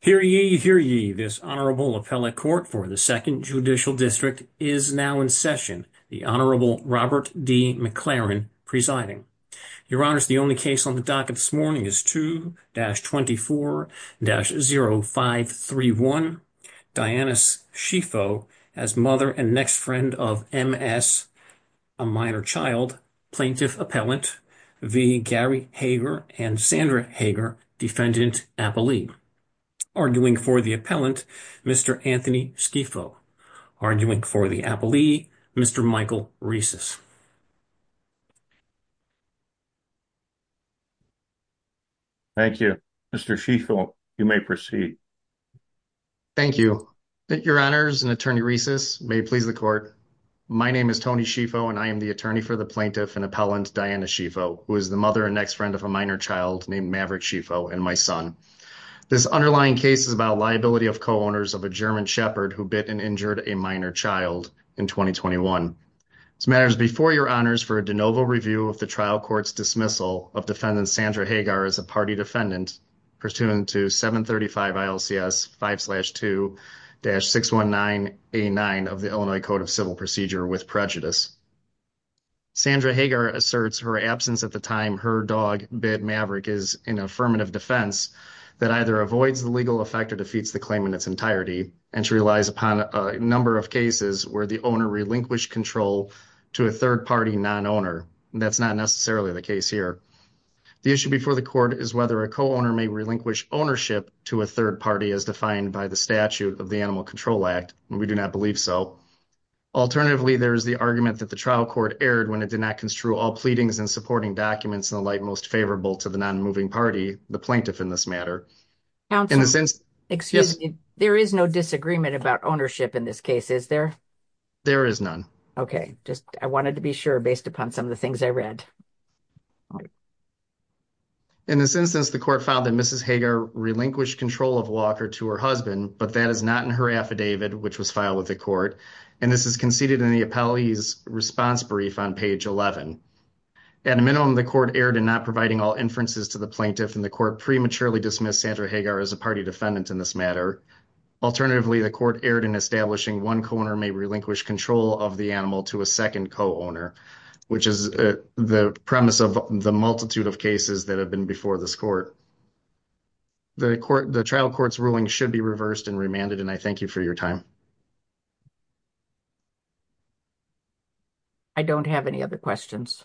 Hear ye, hear ye, this Honorable Appellate Court for the Second Judicial District is now in session, the Honorable Robert D. McLaren presiding. Your Honors, the only case on the docket this morning is 2-24-0531, Dianus Sifo as mother and next friend of M.S., a minor child, Plaintiff Appellant v. Gary Haeger and Sandra Haeger, Defendant Appellee. Arguing for the Appellant, Mr. Anthony Sifo. Arguing for the Appellee, Mr. Michael Reces. Thank you. Mr. Sifo, you may proceed. Thank you. Your Honors, and Attorney Reces, may it please the Court, my name is Tony Sifo and I am the Attorney for the Plaintiff and Appellant, Dianus Sifo, who is the mother and next friend of a minor child named Maverick Sifo and my son. This underlying case is about liability of co-owners of a German Shepherd who bit and injured a minor child in 2021. This matter is before your Honors for a de novo review of the trial court's dismissal of Defendant Sandra Haeger as a party defendant pursuant to 735 ILCS 5-2-619A9 of the Illinois Code of Civil Procedure with prejudice. Sandra Haeger asserts her absence at the time her dog bit Maverick is an affirmative defense that either avoids the legal effect or defeats the claim in its entirety and relies upon a number of cases where the owner relinquished control to a third party non-owner. That's not necessarily the case here. The issue before the Court is whether a co-owner may relinquish ownership to a third party as defined by the statute of the Animal Control Act. We do not believe so. Alternatively, there is the argument that the trial court erred when it did not construe all pleadings and supporting documents in the light most favorable to the non-moving party, the plaintiff in this matter. There is no disagreement about ownership in this case, is there? There is none. Okay, just I wanted to be sure based upon some of the things I read. In this instance, the Court found that Mrs. Haeger relinquished control of Walker to her husband, but that is not in her affidavit, which was filed with the Court, and this is conceded in the appellee's response brief on page 11. At a minimum, the Court erred in not providing all inferences to the plaintiff, and the Court prematurely dismissed Sandra Haeger as a party defendant in this matter. Alternatively, the Court erred in establishing one co-owner may relinquish control of the animal to a second co-owner, which is the premise of the multitude of cases that have been before this Court. The trial court's ruling should be reversed and remanded, and I thank you for your time. I don't have any other questions.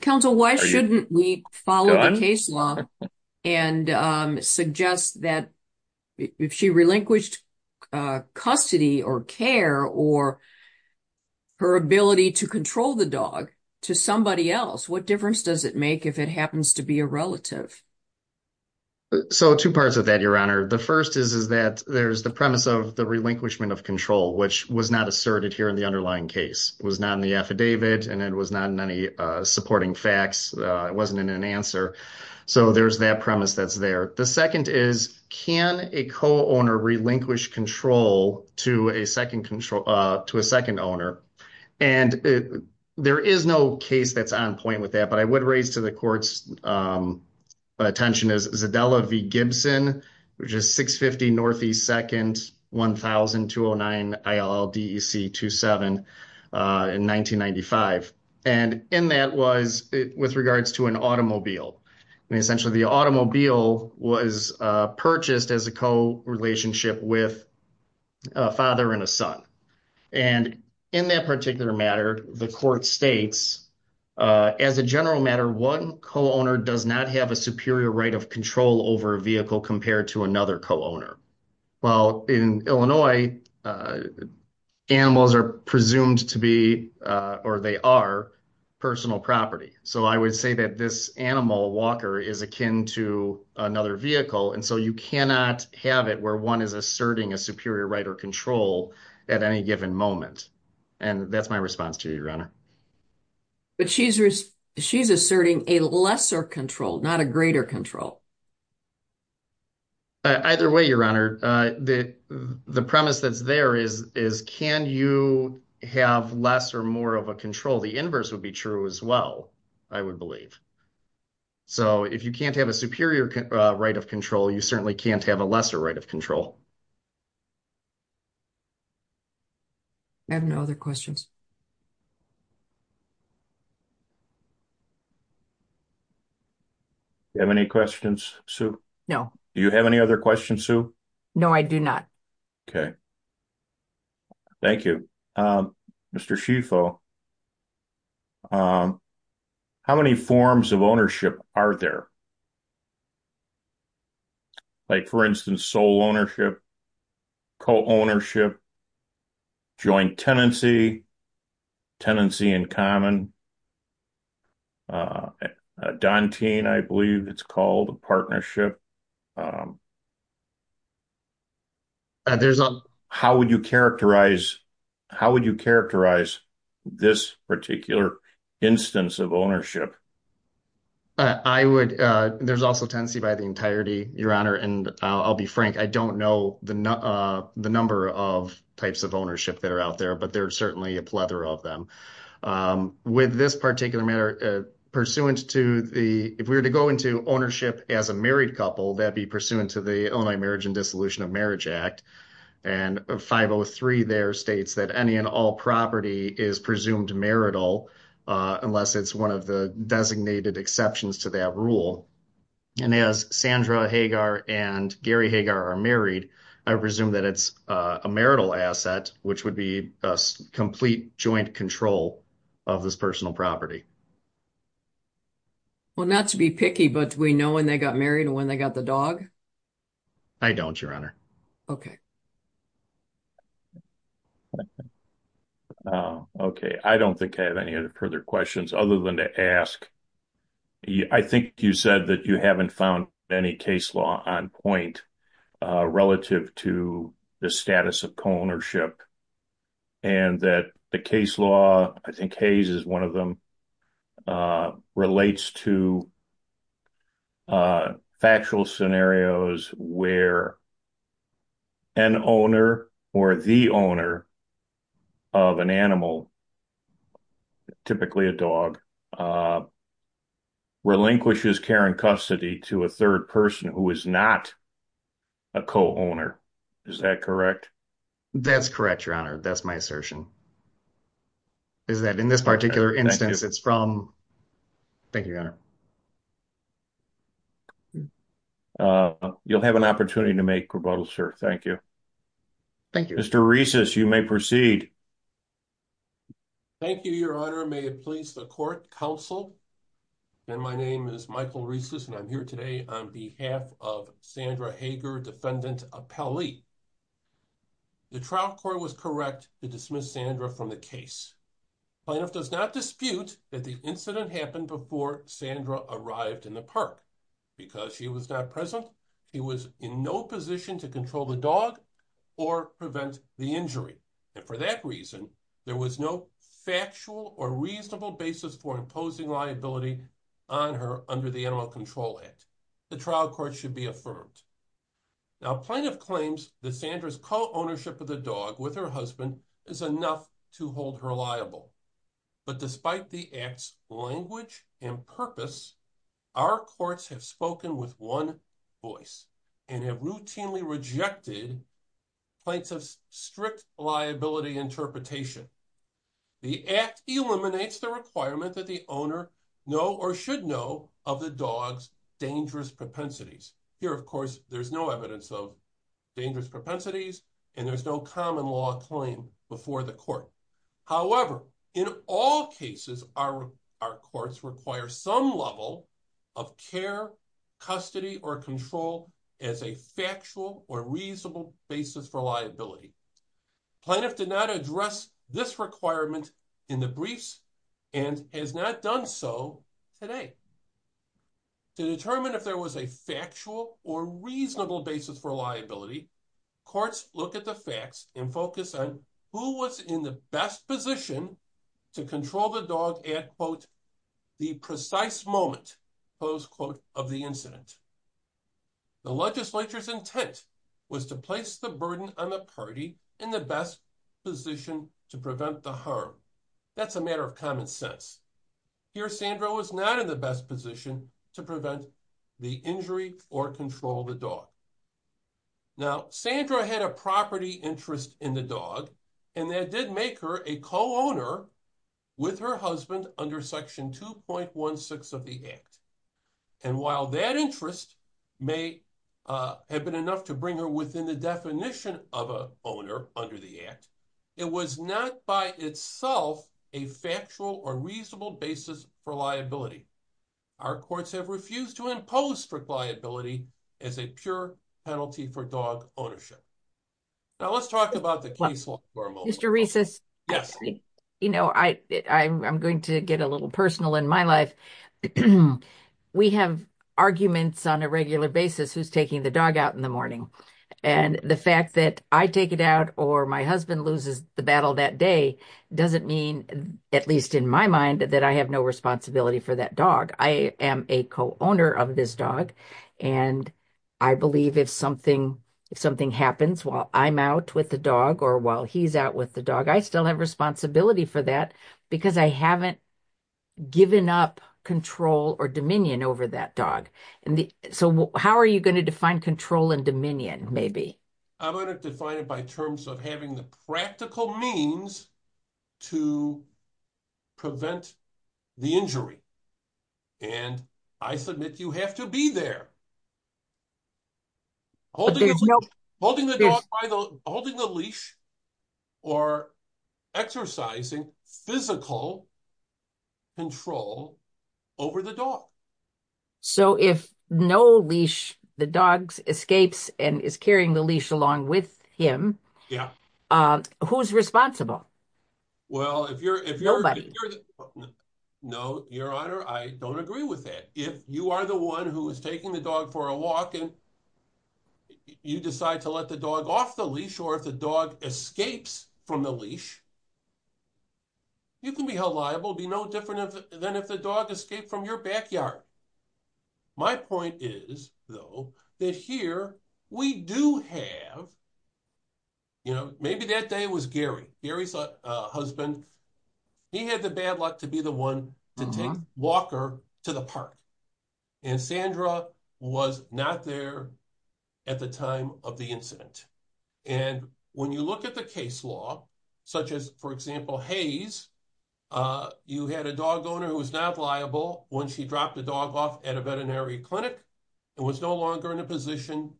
Counsel, why shouldn't we follow the case law and suggest that if she relinquished custody or care or her ability to control the dog to somebody else, what difference does it make if it happens to be a relative? So two parts of that, Your Honor. The first is that there's the premise of the relinquishment of control, which was not asserted here in the underlying case. It was not in the affidavit, and it was not in any supporting facts. It wasn't in an answer. So there's that premise that's there. The second is, can a co-owner relinquish control to a second owner? And there is no case that's on point with that, but I would raise to the Court's attention is Zadella v. Gibson, which is 650 NE 2nd 100209 ILL DEC 27 in 1995. And in that was with regards to an automobile. And essentially, the automobile was purchased as a co-relationship with a father and a son. And in that particular matter, the Court states, as a general matter, one co-owner does not have a superior right of control over a vehicle compared to another co-owner. Well, in Illinois, animals are presumed to be, or they are, personal property. So I would say that this animal, a walker, is akin to another vehicle. And so you cannot have it where one is asserting a superior right or control at any given moment. And that's my response to you, Your Honor. But she's asserting a lesser control, not a greater control. Either way, Your Honor, the premise that's there is, can you have less or more of a control? The inverse would be true as well, I would believe. So if you can't have a superior right of control, you certainly can't have a lesser right of control. I have no other questions. Do you have any questions, Sue? No. Do you have any other questions, Sue? No, I do not. Okay. Thank you. Mr. Schieffel, how many forms of ownership are there? Like, for instance, sole ownership, co-ownership, joint tenancy, tenancy in common, a dantian, I believe it's called, a partnership. There's not. How would you characterize this particular instance of ownership? I would, there's also tenancy by the entirety, Your Honor. And I'll be frank, I don't know the number of types of ownership that are out there, but there are certainly a plethora of them. With this particular matter, pursuant to the, if we were to go into ownership as a married couple, that'd be pursuant to the Illinois Marriage and Dissolution of Marriage Act. And 503 there states that any and all property is presumed marital, unless it's one of the designated exceptions to that rule. And as Sandra Hagar and Gary Hagar are married, I presume that it's a marital asset, which would be a complete joint control of this personal property. Well, not to be picky, but do we know when they got married and when they got the dog? I don't, Your Honor. Okay. I don't think I have any other further questions, other than to ask, I think you said that you haven't found any case law on point relative to the status of co-ownership and that the case law, I think Hayes is one of them, relates to factual scenarios where an owner or the owner of an animal, typically a dog, relinquishes care and custody to a third person who is not a co-owner. Is that correct? That's correct, Your Honor. That's my assertion, is that in this particular instance, it's from... Thank you, Your Honor. You'll have an opportunity to make rebuttals, sir. Thank you. Thank you. Mr. Reces, you may proceed. Thank you, Your Honor. May it please the court, counsel. And my name is Michael Reces and I'm here today on behalf of Sandra Hager, defendant appellee. The trial court was correct to dismiss Sandra from the case. Plaintiff does not dispute that the incident happened before Sandra arrived in the park, because she was not present. He was in no position to control the dog or prevent the injury. And for that reason, there was no factual or reasonable basis for liability on her under the Animal Control Act. The trial court should be affirmed. Now, plaintiff claims that Sandra's co-ownership of the dog with her husband is enough to hold her liable. But despite the act's language and purpose, our courts have spoken with one voice and have routinely rejected plaintiff's strict liability interpretation. The act eliminates the requirement that the owner know or should know of the dog's dangerous propensities. Here, of course, there's no evidence of dangerous propensities and there's no common law claim before the court. However, in all cases, our courts require some level of care, custody, or control as a factual or reasonable basis for liability. Plaintiff did not address this requirement in the briefs and has not done so today. To determine if there was a factual or reasonable basis for liability, courts look at the facts and focus on who was in the best position to control the dog at, quote, precise moment, close quote, of the incident. The legislature's intent was to place the burden on the party in the best position to prevent the harm. That's a matter of common sense. Here, Sandra was not in the best position to prevent the injury or control the dog. Now, Sandra had a property interest in the dog and that did make her a co-owner with her husband under Section 2.16 of the Act. And while that interest may have been enough to bring her within the definition of an owner under the Act, it was not by itself a factual or reasonable basis for liability. Our courts have refused to impose strict liability as a pure penalty for dog in my life. We have arguments on a regular basis who's taking the dog out in the morning. And the fact that I take it out or my husband loses the battle that day doesn't mean, at least in my mind, that I have no responsibility for that dog. I am a co-owner of this dog and I believe if something happens while I'm out with the dog or while he's out with the dog, I still have responsibility for that because I haven't given up control or dominion over that dog. So, how are you going to define control and dominion, maybe? I'm going to define it by terms of having the practical means to prevent the injury. And I submit you have to be there holding the leash or exercising physical control over the dog. So, if no leash, the dog escapes and is carrying the leash along with him, who's responsible? Well, if you're... No, Your Honor, I don't agree with that. If you are the one who is taking the dog for a walk and you decide to let the dog off the leash or if the dog escapes from the leash, you can be held liable, be no different than if the dog escaped from your backyard. My point is, though, that here we do have... Maybe that day was Gary. Gary's husband, he had the bad luck to be the one to take Walker to the park. And Sandra was not there at the time of the incident. And when you look at the case law, such as, for example, Hayes, you had a dog owner who was not liable when she dropped the dog off at a veterinary clinic and was no longer in a position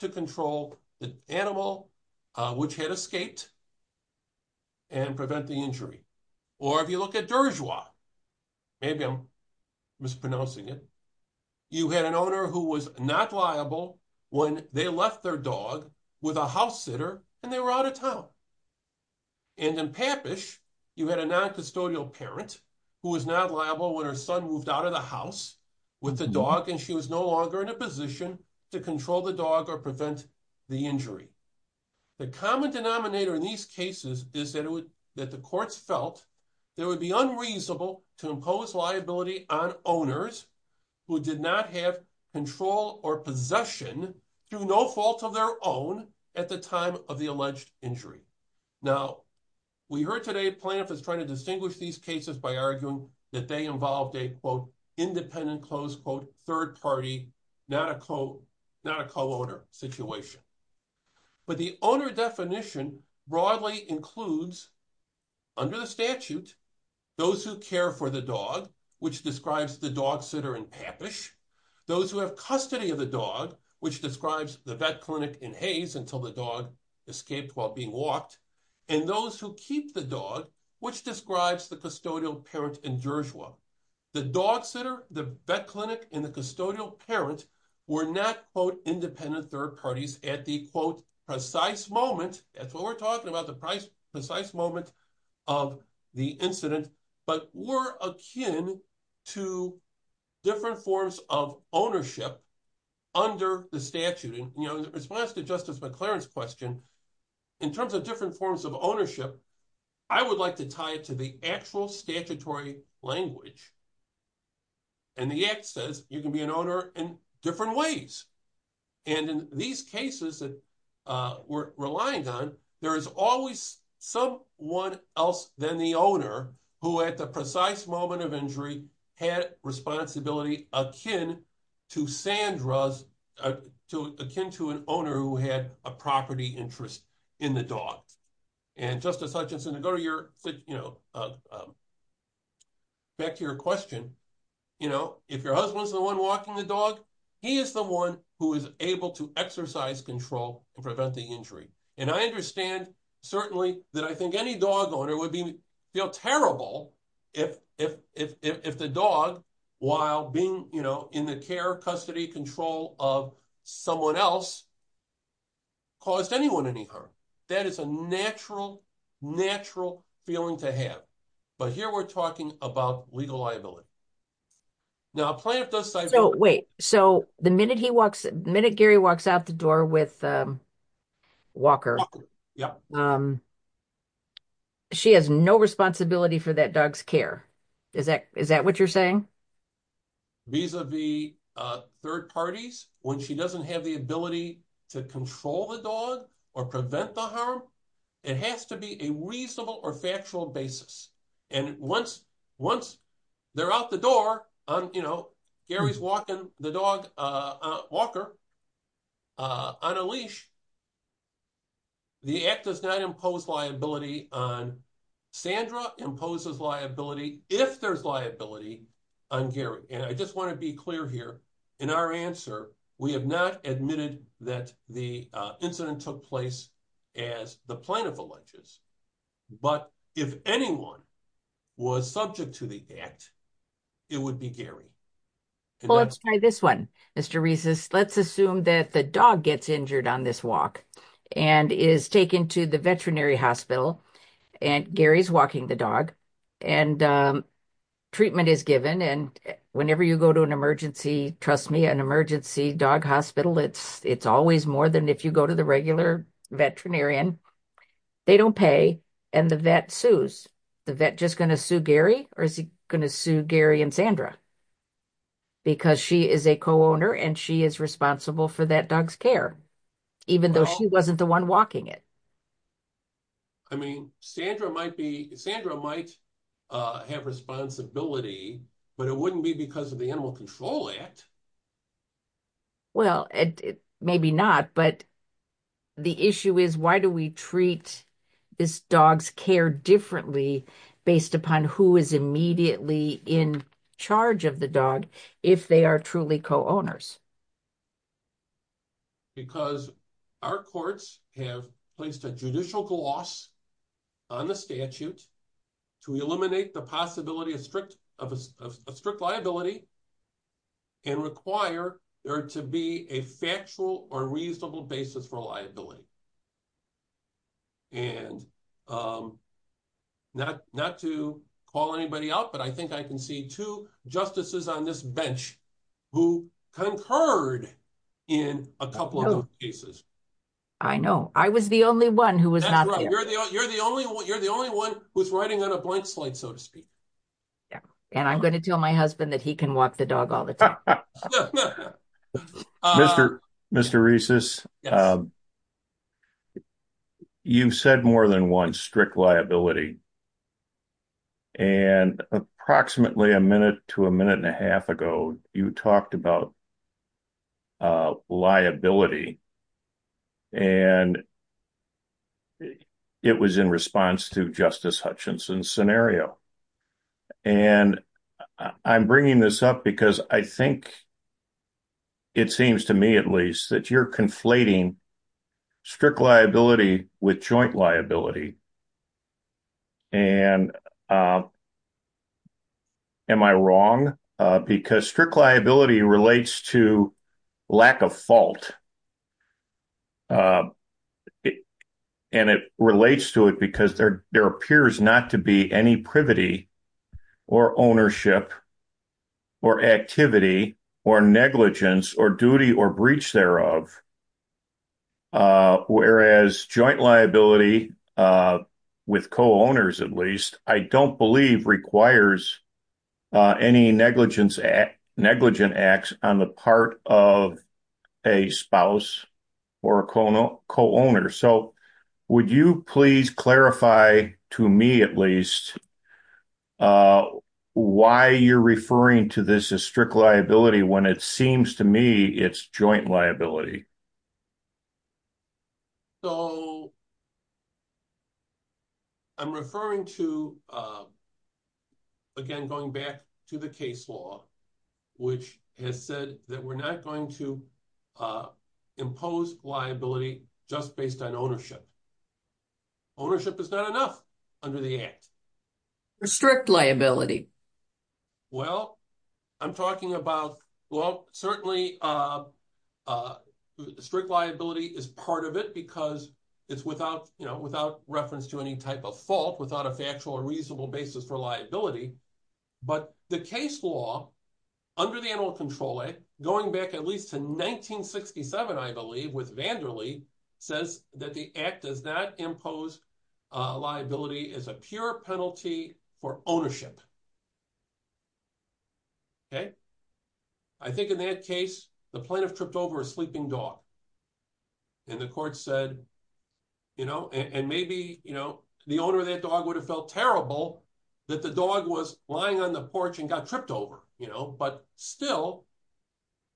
to control the animal, which had escaped and prevent the injury. Or if you look at Dershowa, maybe I'm mispronouncing it, you had an owner who was not liable when they left their dog with a house sitter and they were out of town. And in Pappish, you had a noncustodial parent who was not liable when her son moved out of the house with the dog and she was no longer in a position to control the dog or prevent the injury. The common denominator in these cases is that the courts felt it would be unreasonable to impose liability on owners who did not have control or possession through no fault of their own at the time of the alleged injury. Now, we heard today Planoff is trying to distinguish these cases by arguing that they involved a quote, independent close quote, third party, not a co-owner situation. But the owner definition broadly includes under the statute, those who care for the dog, which describes the dog sitter in Pappish, those who have custody of the dog, which describes the vet clinic in Hayes until the dog escaped while being walked, and those who keep the dog, which describes the custodial parent in Dershowa. The dog sitter, the vet clinic, and the custodial parent were not quote, independent third parties at the quote, precise moment, that's what we're talking about, the precise moment of the incident, but were akin to different forms of ownership under the statute. In response to Justice McLaren's question, in terms of different forms of ownership, I would like to tie it to the actual statutory language. And the act says you can be an owner in different ways. And in these cases we're relying on, there is always someone else than the owner who at the precise moment of injury had responsibility akin to Sandra's, akin to an owner who had a property interest in the dog. And Justice Hutchinson, to go back to your question, if your husband's the one walking the dog, he is the one who is able to exercise control and prevent the injury. And I understand certainly that I think any dog owner would feel terrible if the dog, while being in the care, custody control of someone else, caused anyone any harm. That is a natural, natural feeling to have. But here we're talking about legal liability. Now, a plaintiff does say- So wait, so the minute he walks, the minute Gary walks out the door with Walker, she has no responsibility for that dog's care. Is that, is that what you're saying? Vis-a-vis third parties, when she doesn't have the ability to control the dog or prevent the harm, it has to be a reasonable or factual basis. And once they're out the door, Gary's walking the dog, Walker, on a leash, the act does not impose liability on Sandra, imposes liability if there's liability on Gary. And I just want to be clear here, in our answer, we have not admitted that the incident took place as the plaintiff alleges. But if anyone was subject to the act, it would be Gary. Well, let's try this one, Mr. Reeses. Let's assume that the dog gets injured on this walk and is taken to the veterinary hospital, and Gary's walking the dog, and treatment is given. And whenever you go to an emergency, trust me, an emergency dog hospital, it's always more than if you go to the regular veterinarian. They don't pay, and the vet sues. The vet just going to sue Gary? Or is he going to sue Gary and Sandra? Because she is a co-owner and she is responsible for that dog's care, even though she wasn't the one walking it. I mean, Sandra might be, Sandra might have responsibility, but it wouldn't be because of the Animal Control Act. Well, maybe not. But the issue is, why do we treat this dog's care differently based upon who is immediately in charge of the dog, if they are truly co-owners? Because our courts have placed a judicial gloss on the statute to eliminate the possibility of a strict liability and require there to be a factual or reasonable basis for liability. And not to call anybody out, but I think I can see two justices on this bench who concurred in a couple of those cases. I know. I was the only one who was not there. That's right. You're the only one who's writing on a blank slate, so to speak. Yeah. And I'm going to tell my husband that he can walk the dog all the time. Mr. Reeses, you've said more than one strict liability. And approximately a minute to a minute and a half ago, you talked about liability, and it was in response to Justice Hutchinson's scenario. And I'm bringing this up because I think it seems to me, at least, that you're conflating strict liability with joint liability. And am I wrong? Because strict liability relates to lack of fault. And it relates to it because there appears not to be any privity or ownership or activity or negligence or duty or breach thereof. Whereas joint liability with co-owners, at least, I don't believe requires any negligence acts on the part of a spouse or a co-owner. Would you please clarify to me, at least, why you're referring to this as strict liability when it seems to me it's joint liability? I'm referring to, again, going back to the case law, which has said that we're not going to ownership. Ownership is not enough under the Act. For strict liability? Well, I'm talking about, well, certainly strict liability is part of it because it's without reference to any type of fault, without a factual or reasonable basis for liability. But the case law under the Animal Control Act, going back at least to 1967, I believe, with Vanderle says that the Act does not impose liability as a pure penalty for ownership. I think in that case, the plaintiff tripped over a sleeping dog. And the court said, and maybe the owner of that dog would have felt terrible that the dog was lying on the porch and tripped over. But still,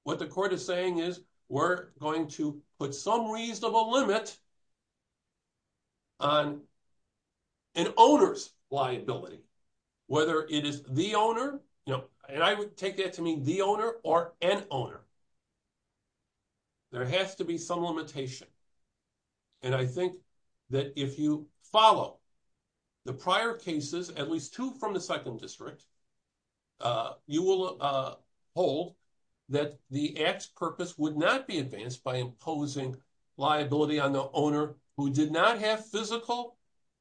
what the court is saying is we're going to put some reasonable limit on an owner's liability, whether it is the owner, and I would take that to mean the owner or an owner. There has to be some limitation. And I think that if you follow the prior cases, at least two from the second district, you will hold that the Act's purpose would not be advanced by imposing liability on the owner who did not have physical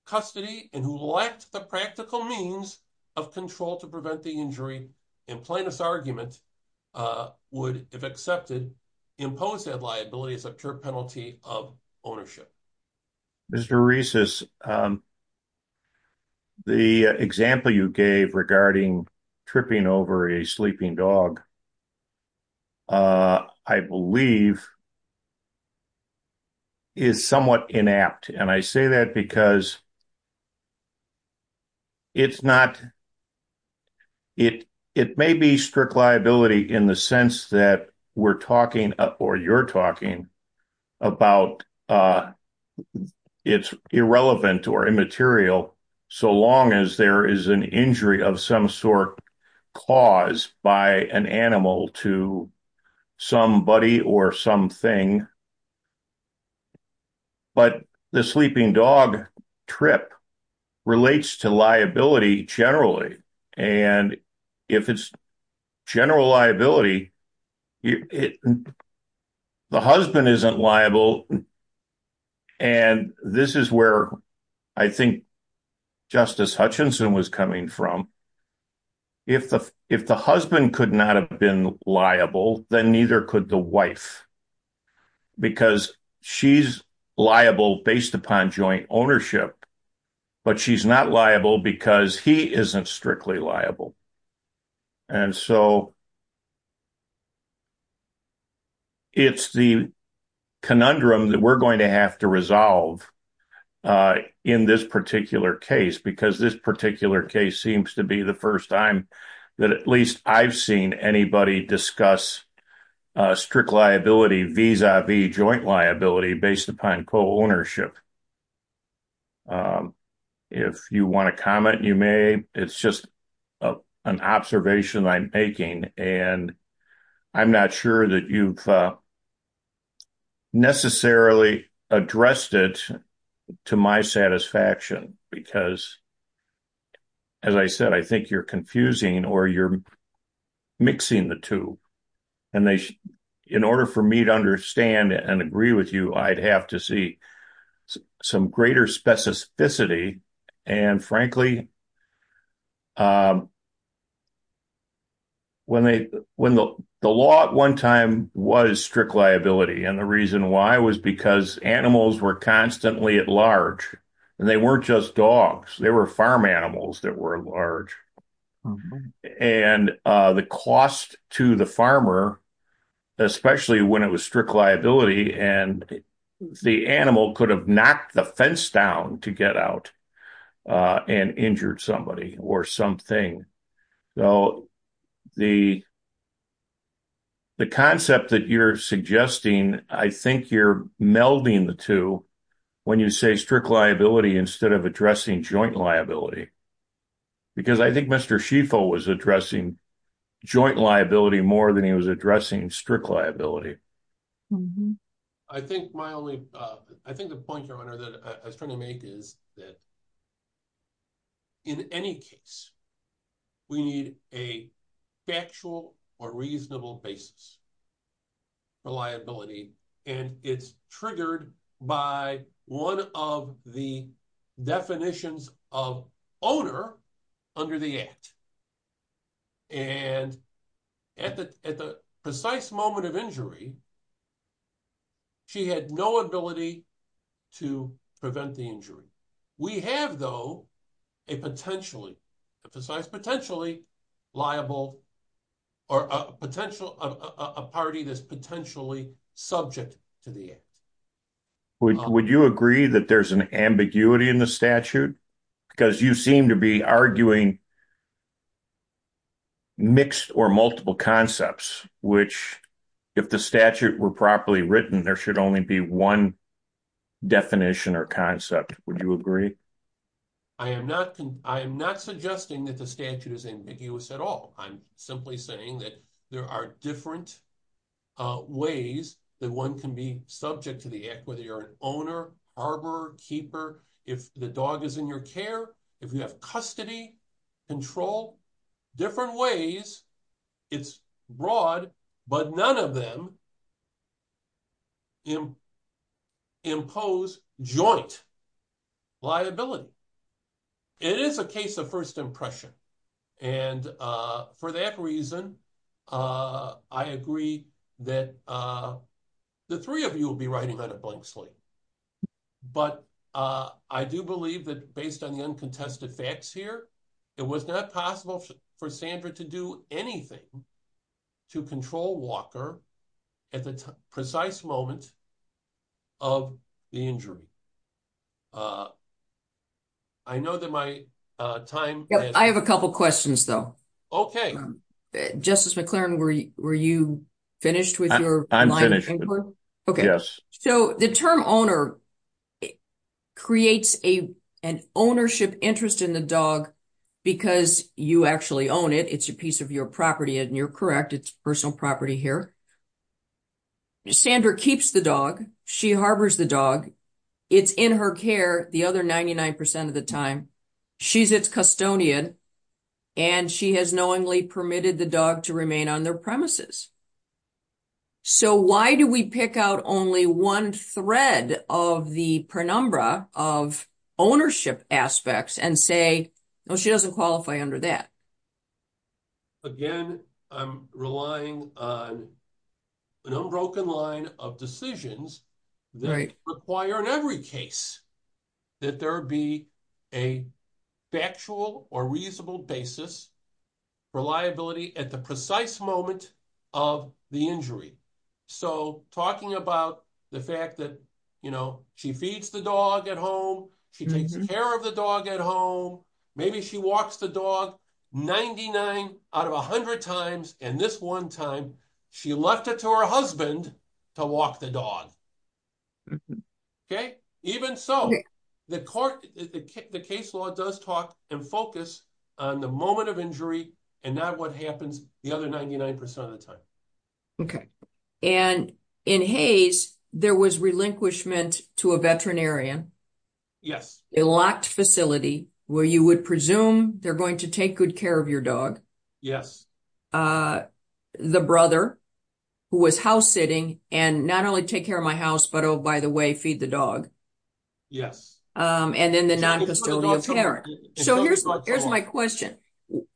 custody and who lacked the practical means of control to prevent the injury. And plaintiff's argument would, if accepted, impose that liability as a pure penalty of ownership. Mr. Reeses, the example you gave regarding tripping over a sleeping dog, I believe, is somewhat inapt. And I say that because it's not, it may be strict liability in the sense that we're talking or you're talking about it's irrelevant or immaterial so long as there is an injury of some sort caused by an animal to somebody or something. But the sleeping dog trip relates to liability generally. And if it's general liability, it, the husband isn't liable. And this is where I think Justice Hutchinson was coming from. If the, if the husband could not have been liable, then neither could the wife. Because she's liable based upon joint ownership. But she's not liable because he isn't strictly liable. And so it's the conundrum that we're going to have to resolve in this particular case, because this particular case seems to be the first time that at least I've seen anybody discuss strict liability vis-a-vis joint liability based upon co-ownership. If you want to comment, you may. It's just an observation I'm making. And I'm not sure that you've necessarily addressed it to my satisfaction. Because as I said, I think you're confusing or you're mixing the two. And they, in order for me to understand and agree with you, I'd have to see some greater specificity. And frankly, when they, when the law at one time was strict liability, and the reason why was because animals were constantly at large. And they weren't just dogs, they were farm animals that were large. And the cost to the farmer, especially when it was strict liability, and the animal could have knocked the fence down to get out and injured somebody or something. So the concept that you're suggesting, I think you're melding the two, when you say strict liability, instead of addressing joint liability. Because I think Mr. Schieffel was addressing joint liability more than he was addressing strict liability. I think my only, I think the point you're trying to make is that in any case, we need a factual or reasonable basis for liability. And it's triggered by one of the definitions of owner under the Act. And at the precise moment of injury, she had no ability to prevent the injury. We have though, a potentially, a precise potentially liable, or a potential, a party that's potentially subject to the Act. Would you agree that there's an ambiguity in the statute? Because you seem to be arguing mixed or multiple concepts, which if the statute were properly written, there should only be one definition or concept. Would you agree? I am not suggesting that the statute is ambiguous at all. I'm simply saying that there are different ways that one can be subject to the Act, whether you're an owner, harborer, keeper, if the dog is in your care, if you have custody, control, different ways, it's broad, but none of them impose joint liability. It is a case of first impression. And for that reason, I agree that the three of you will be writing on a blank slate. But I do believe that based on the uncontested facts here, it was not possible for Sandra to do anything to control Walker at the precise moment of the injury. I know that my time- I have a couple of questions, though. Okay. Justice McLaren, were you finished with your line of inquiry? I'm finished. Yes. So the term owner creates an ownership interest in the dog because you actually own it, it's a piece of your property, and you're correct, it's personal property here. Sandra keeps the dog, she harbors the dog, it's in her care the other 99% of the time, she's its custodian, and she has knowingly permitted the dog to remain on their premises. So why do we pick out only one thread of the penumbra of ownership aspects and say, no, she doesn't qualify under that? Again, I'm relying on an unbroken line of decisions that require in every case that there be a factual or reasonable basis for liability at the precise moment of the injury. So talking about the fact that she feeds the dog at home, she takes care of the dog at home, maybe she walks the dog 99 out of 100 times, and this one time, she left it to her husband to walk the dog. Even so, the court, the case law does talk and focus on the moment of injury, and not what happens the other 99% of the time. Okay. And in Hayes, there was relinquishment to a veterinarian. Yes. A locked facility where you would presume they're going to take good care of your dog. Yes. The brother who was house sitting and not only take care of my house, but oh, by the way, feed the dog. Yes. And then the non-custodial parent. So here's my question.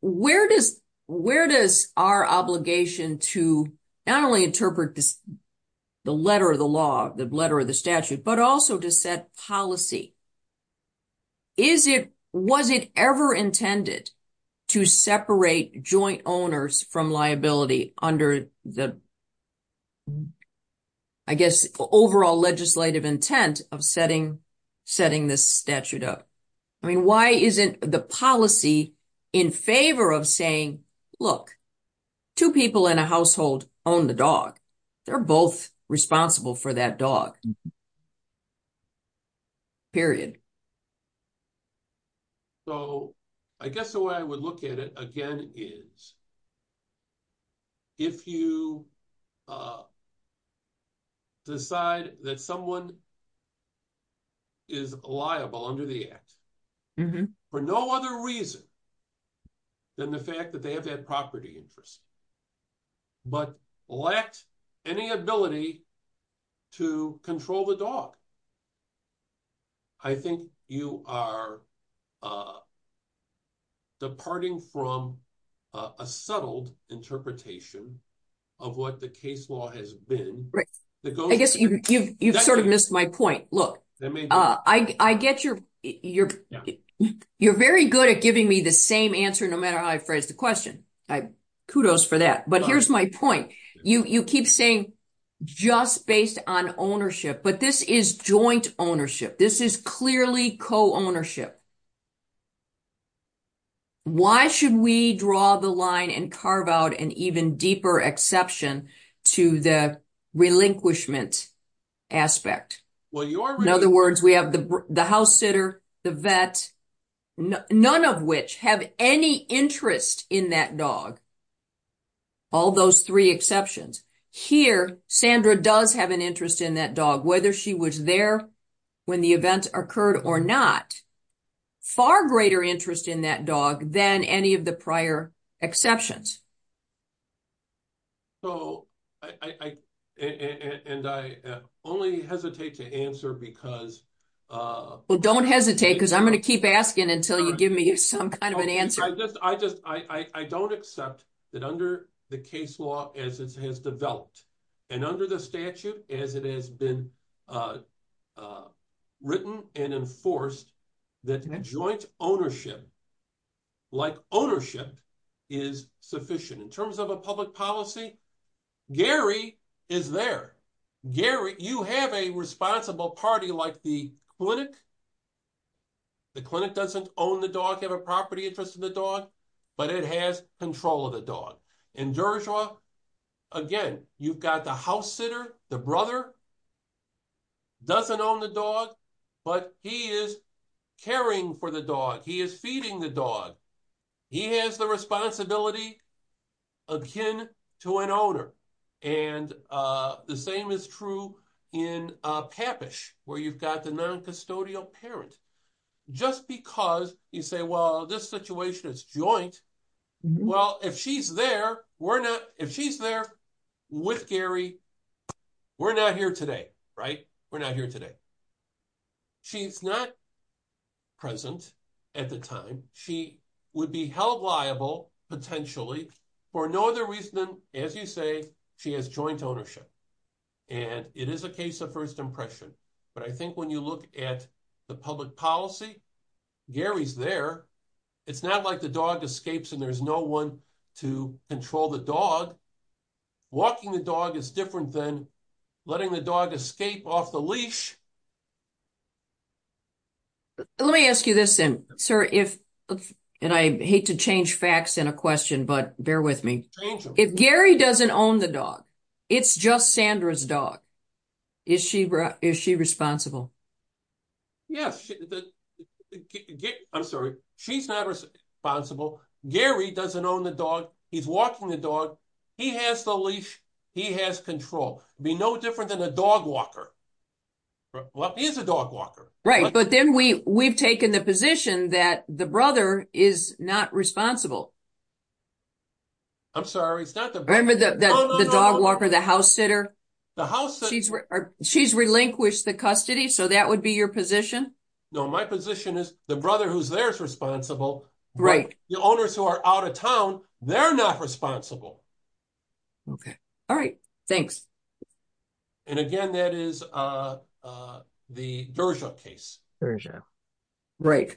Where does our obligation to not only interpret the letter of the law, the letter of the statute, but also to set policy is it, was it ever intended to separate joint owners from liability under the, I guess, overall legislative intent of setting this statute up? I mean, why isn't the policy in favor of saying, look, two people in a household own the dog. They're both responsible for that dog. Period. So I guess the way I would look at it again is if you decide that someone is liable under the act for no other reason than the fact that they have that property interest, but lacked any ability to control the dog. I think you are departing from a settled interpretation of what the case law has been. Right. I guess you've sort of missed my point. Look, I get your, you're very good at giving me the same answer, no matter how I phrase the question. Kudos for that. But here's my point. You keep saying just based on ownership, but this is joint ownership. This is clearly co-ownership. Why should we draw the line and carve out an even deeper exception to the relinquishment aspect? In other words, we have the house sitter, the vet, none of which have any interest in that dog. All those three exceptions. Here, Sandra does have an interest in that dog, whether she was there when the event occurred or not. Far greater interest in that dog than any of the prior exceptions. I only hesitate to answer because- Well, don't hesitate because I'm going to keep asking until you give me some kind of an answer. I don't accept that under the case law as it has developed, and under the statute as it has been written and enforced, that joint ownership, like ownership, is sufficient. In terms of a public policy, Gary is there. Gary, you have a responsible party like the clinic. The clinic doesn't own the dog, have a property interest in the dog, but it has control of the dog. In Dershowa, again, you've got the house sitter, the brother, doesn't own the dog, but he is caring for the dog. He is feeding the dog. He has the responsibility akin to an owner. The same is true in Papish, where you've got the non-custodial parent. Just because you say, well, this situation is joint, well, if she's there, we're not- If she's there with Gary, we're not here today. We're not here today. She's not present at the time. She would be held liable potentially for no other reason than, as you say, she has joint ownership. It is a case of first impression, but I think when you look at the public policy, Gary's there. It's not like the dog escapes and there's no one to control the dog. Walking the dog is different than letting the dog escape off the leash. Let me ask you this then, sir. I hate to change facts in a question, but bear with me. If Gary doesn't own the dog, it's just Sandra's dog. Is she responsible? Yes. I'm sorry. She's not responsible. Gary doesn't own the dog. He's walking the dog. He has the leash. He has control. It'd be no different than a dog walker. Well, he is a dog walker. Right, but then we've taken the position that the brother is not responsible. I'm sorry. It's not the- Remember the dog walker, the house sitter? The house sitter- She's relinquished the custody, so that would be your position? No. My position is the brother who's there is responsible. Right. The owners who are out of town, they're not responsible. Okay. All right. Thanks. Again, that is the Dershow case. Dershow. Right.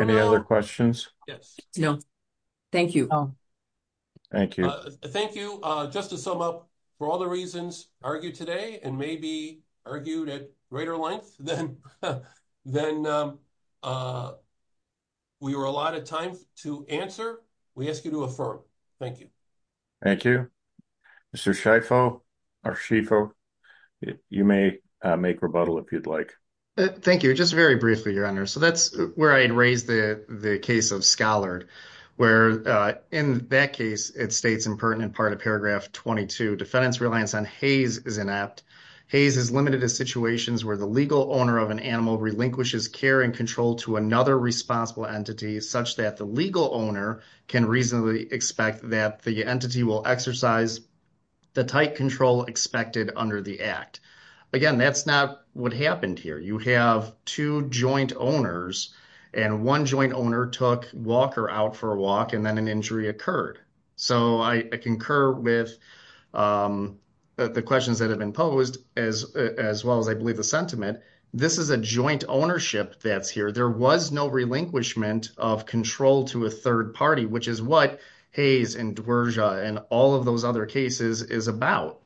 Any other questions? Yes. No. Thank you. Thank you. Thank you. Just to sum up, for all the reasons argued today and maybe argued at greater length than we were allotted time to answer, we ask you to affirm. Thank you. Thank you. Mr. Schieffo, you may make rebuttal if you'd like. Thank you. Just very briefly, so that's where I'd raise the case of Scholard, where in that case, it states in part of paragraph 22, defendant's reliance on Hays is inept. Hays is limited to situations where the legal owner of an animal relinquishes care and control to another responsible entity such that the legal owner can reasonably expect that the entity will exercise the tight control expected under the act. Again, that's not what happened here. You have two joint owners and one joint owner took Walker out for a walk and then an injury occurred. So I concur with the questions that have been posed as well as I believe the sentiment. This is a joint ownership that's here. There was no relinquishment of control to a third party, which is what Hays and Dwersha and all of those other cases is about.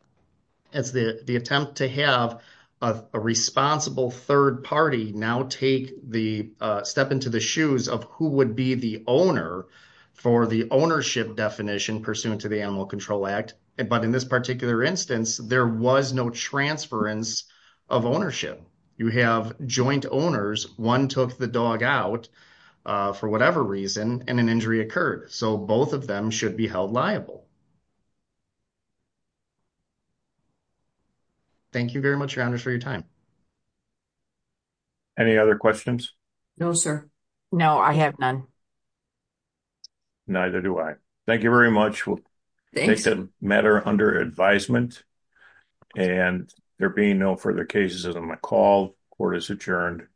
It's the attempt to have a responsible third party now take the step into the shoes of who would be the owner for the ownership definition pursuant to the Animal Control Act. But in this particular instance, there was no transference of ownership. You have joint owners. One took the dog out for whatever reason and an injury occurred. So both of them should be held liable. Thank you very much, Your Honors, for your time. Any other questions? No, sir. No, I have none. Neither do I. Thank you very much. We'll take the matter under advisement and there being no further cases, I'm going to call. Court is adjourned.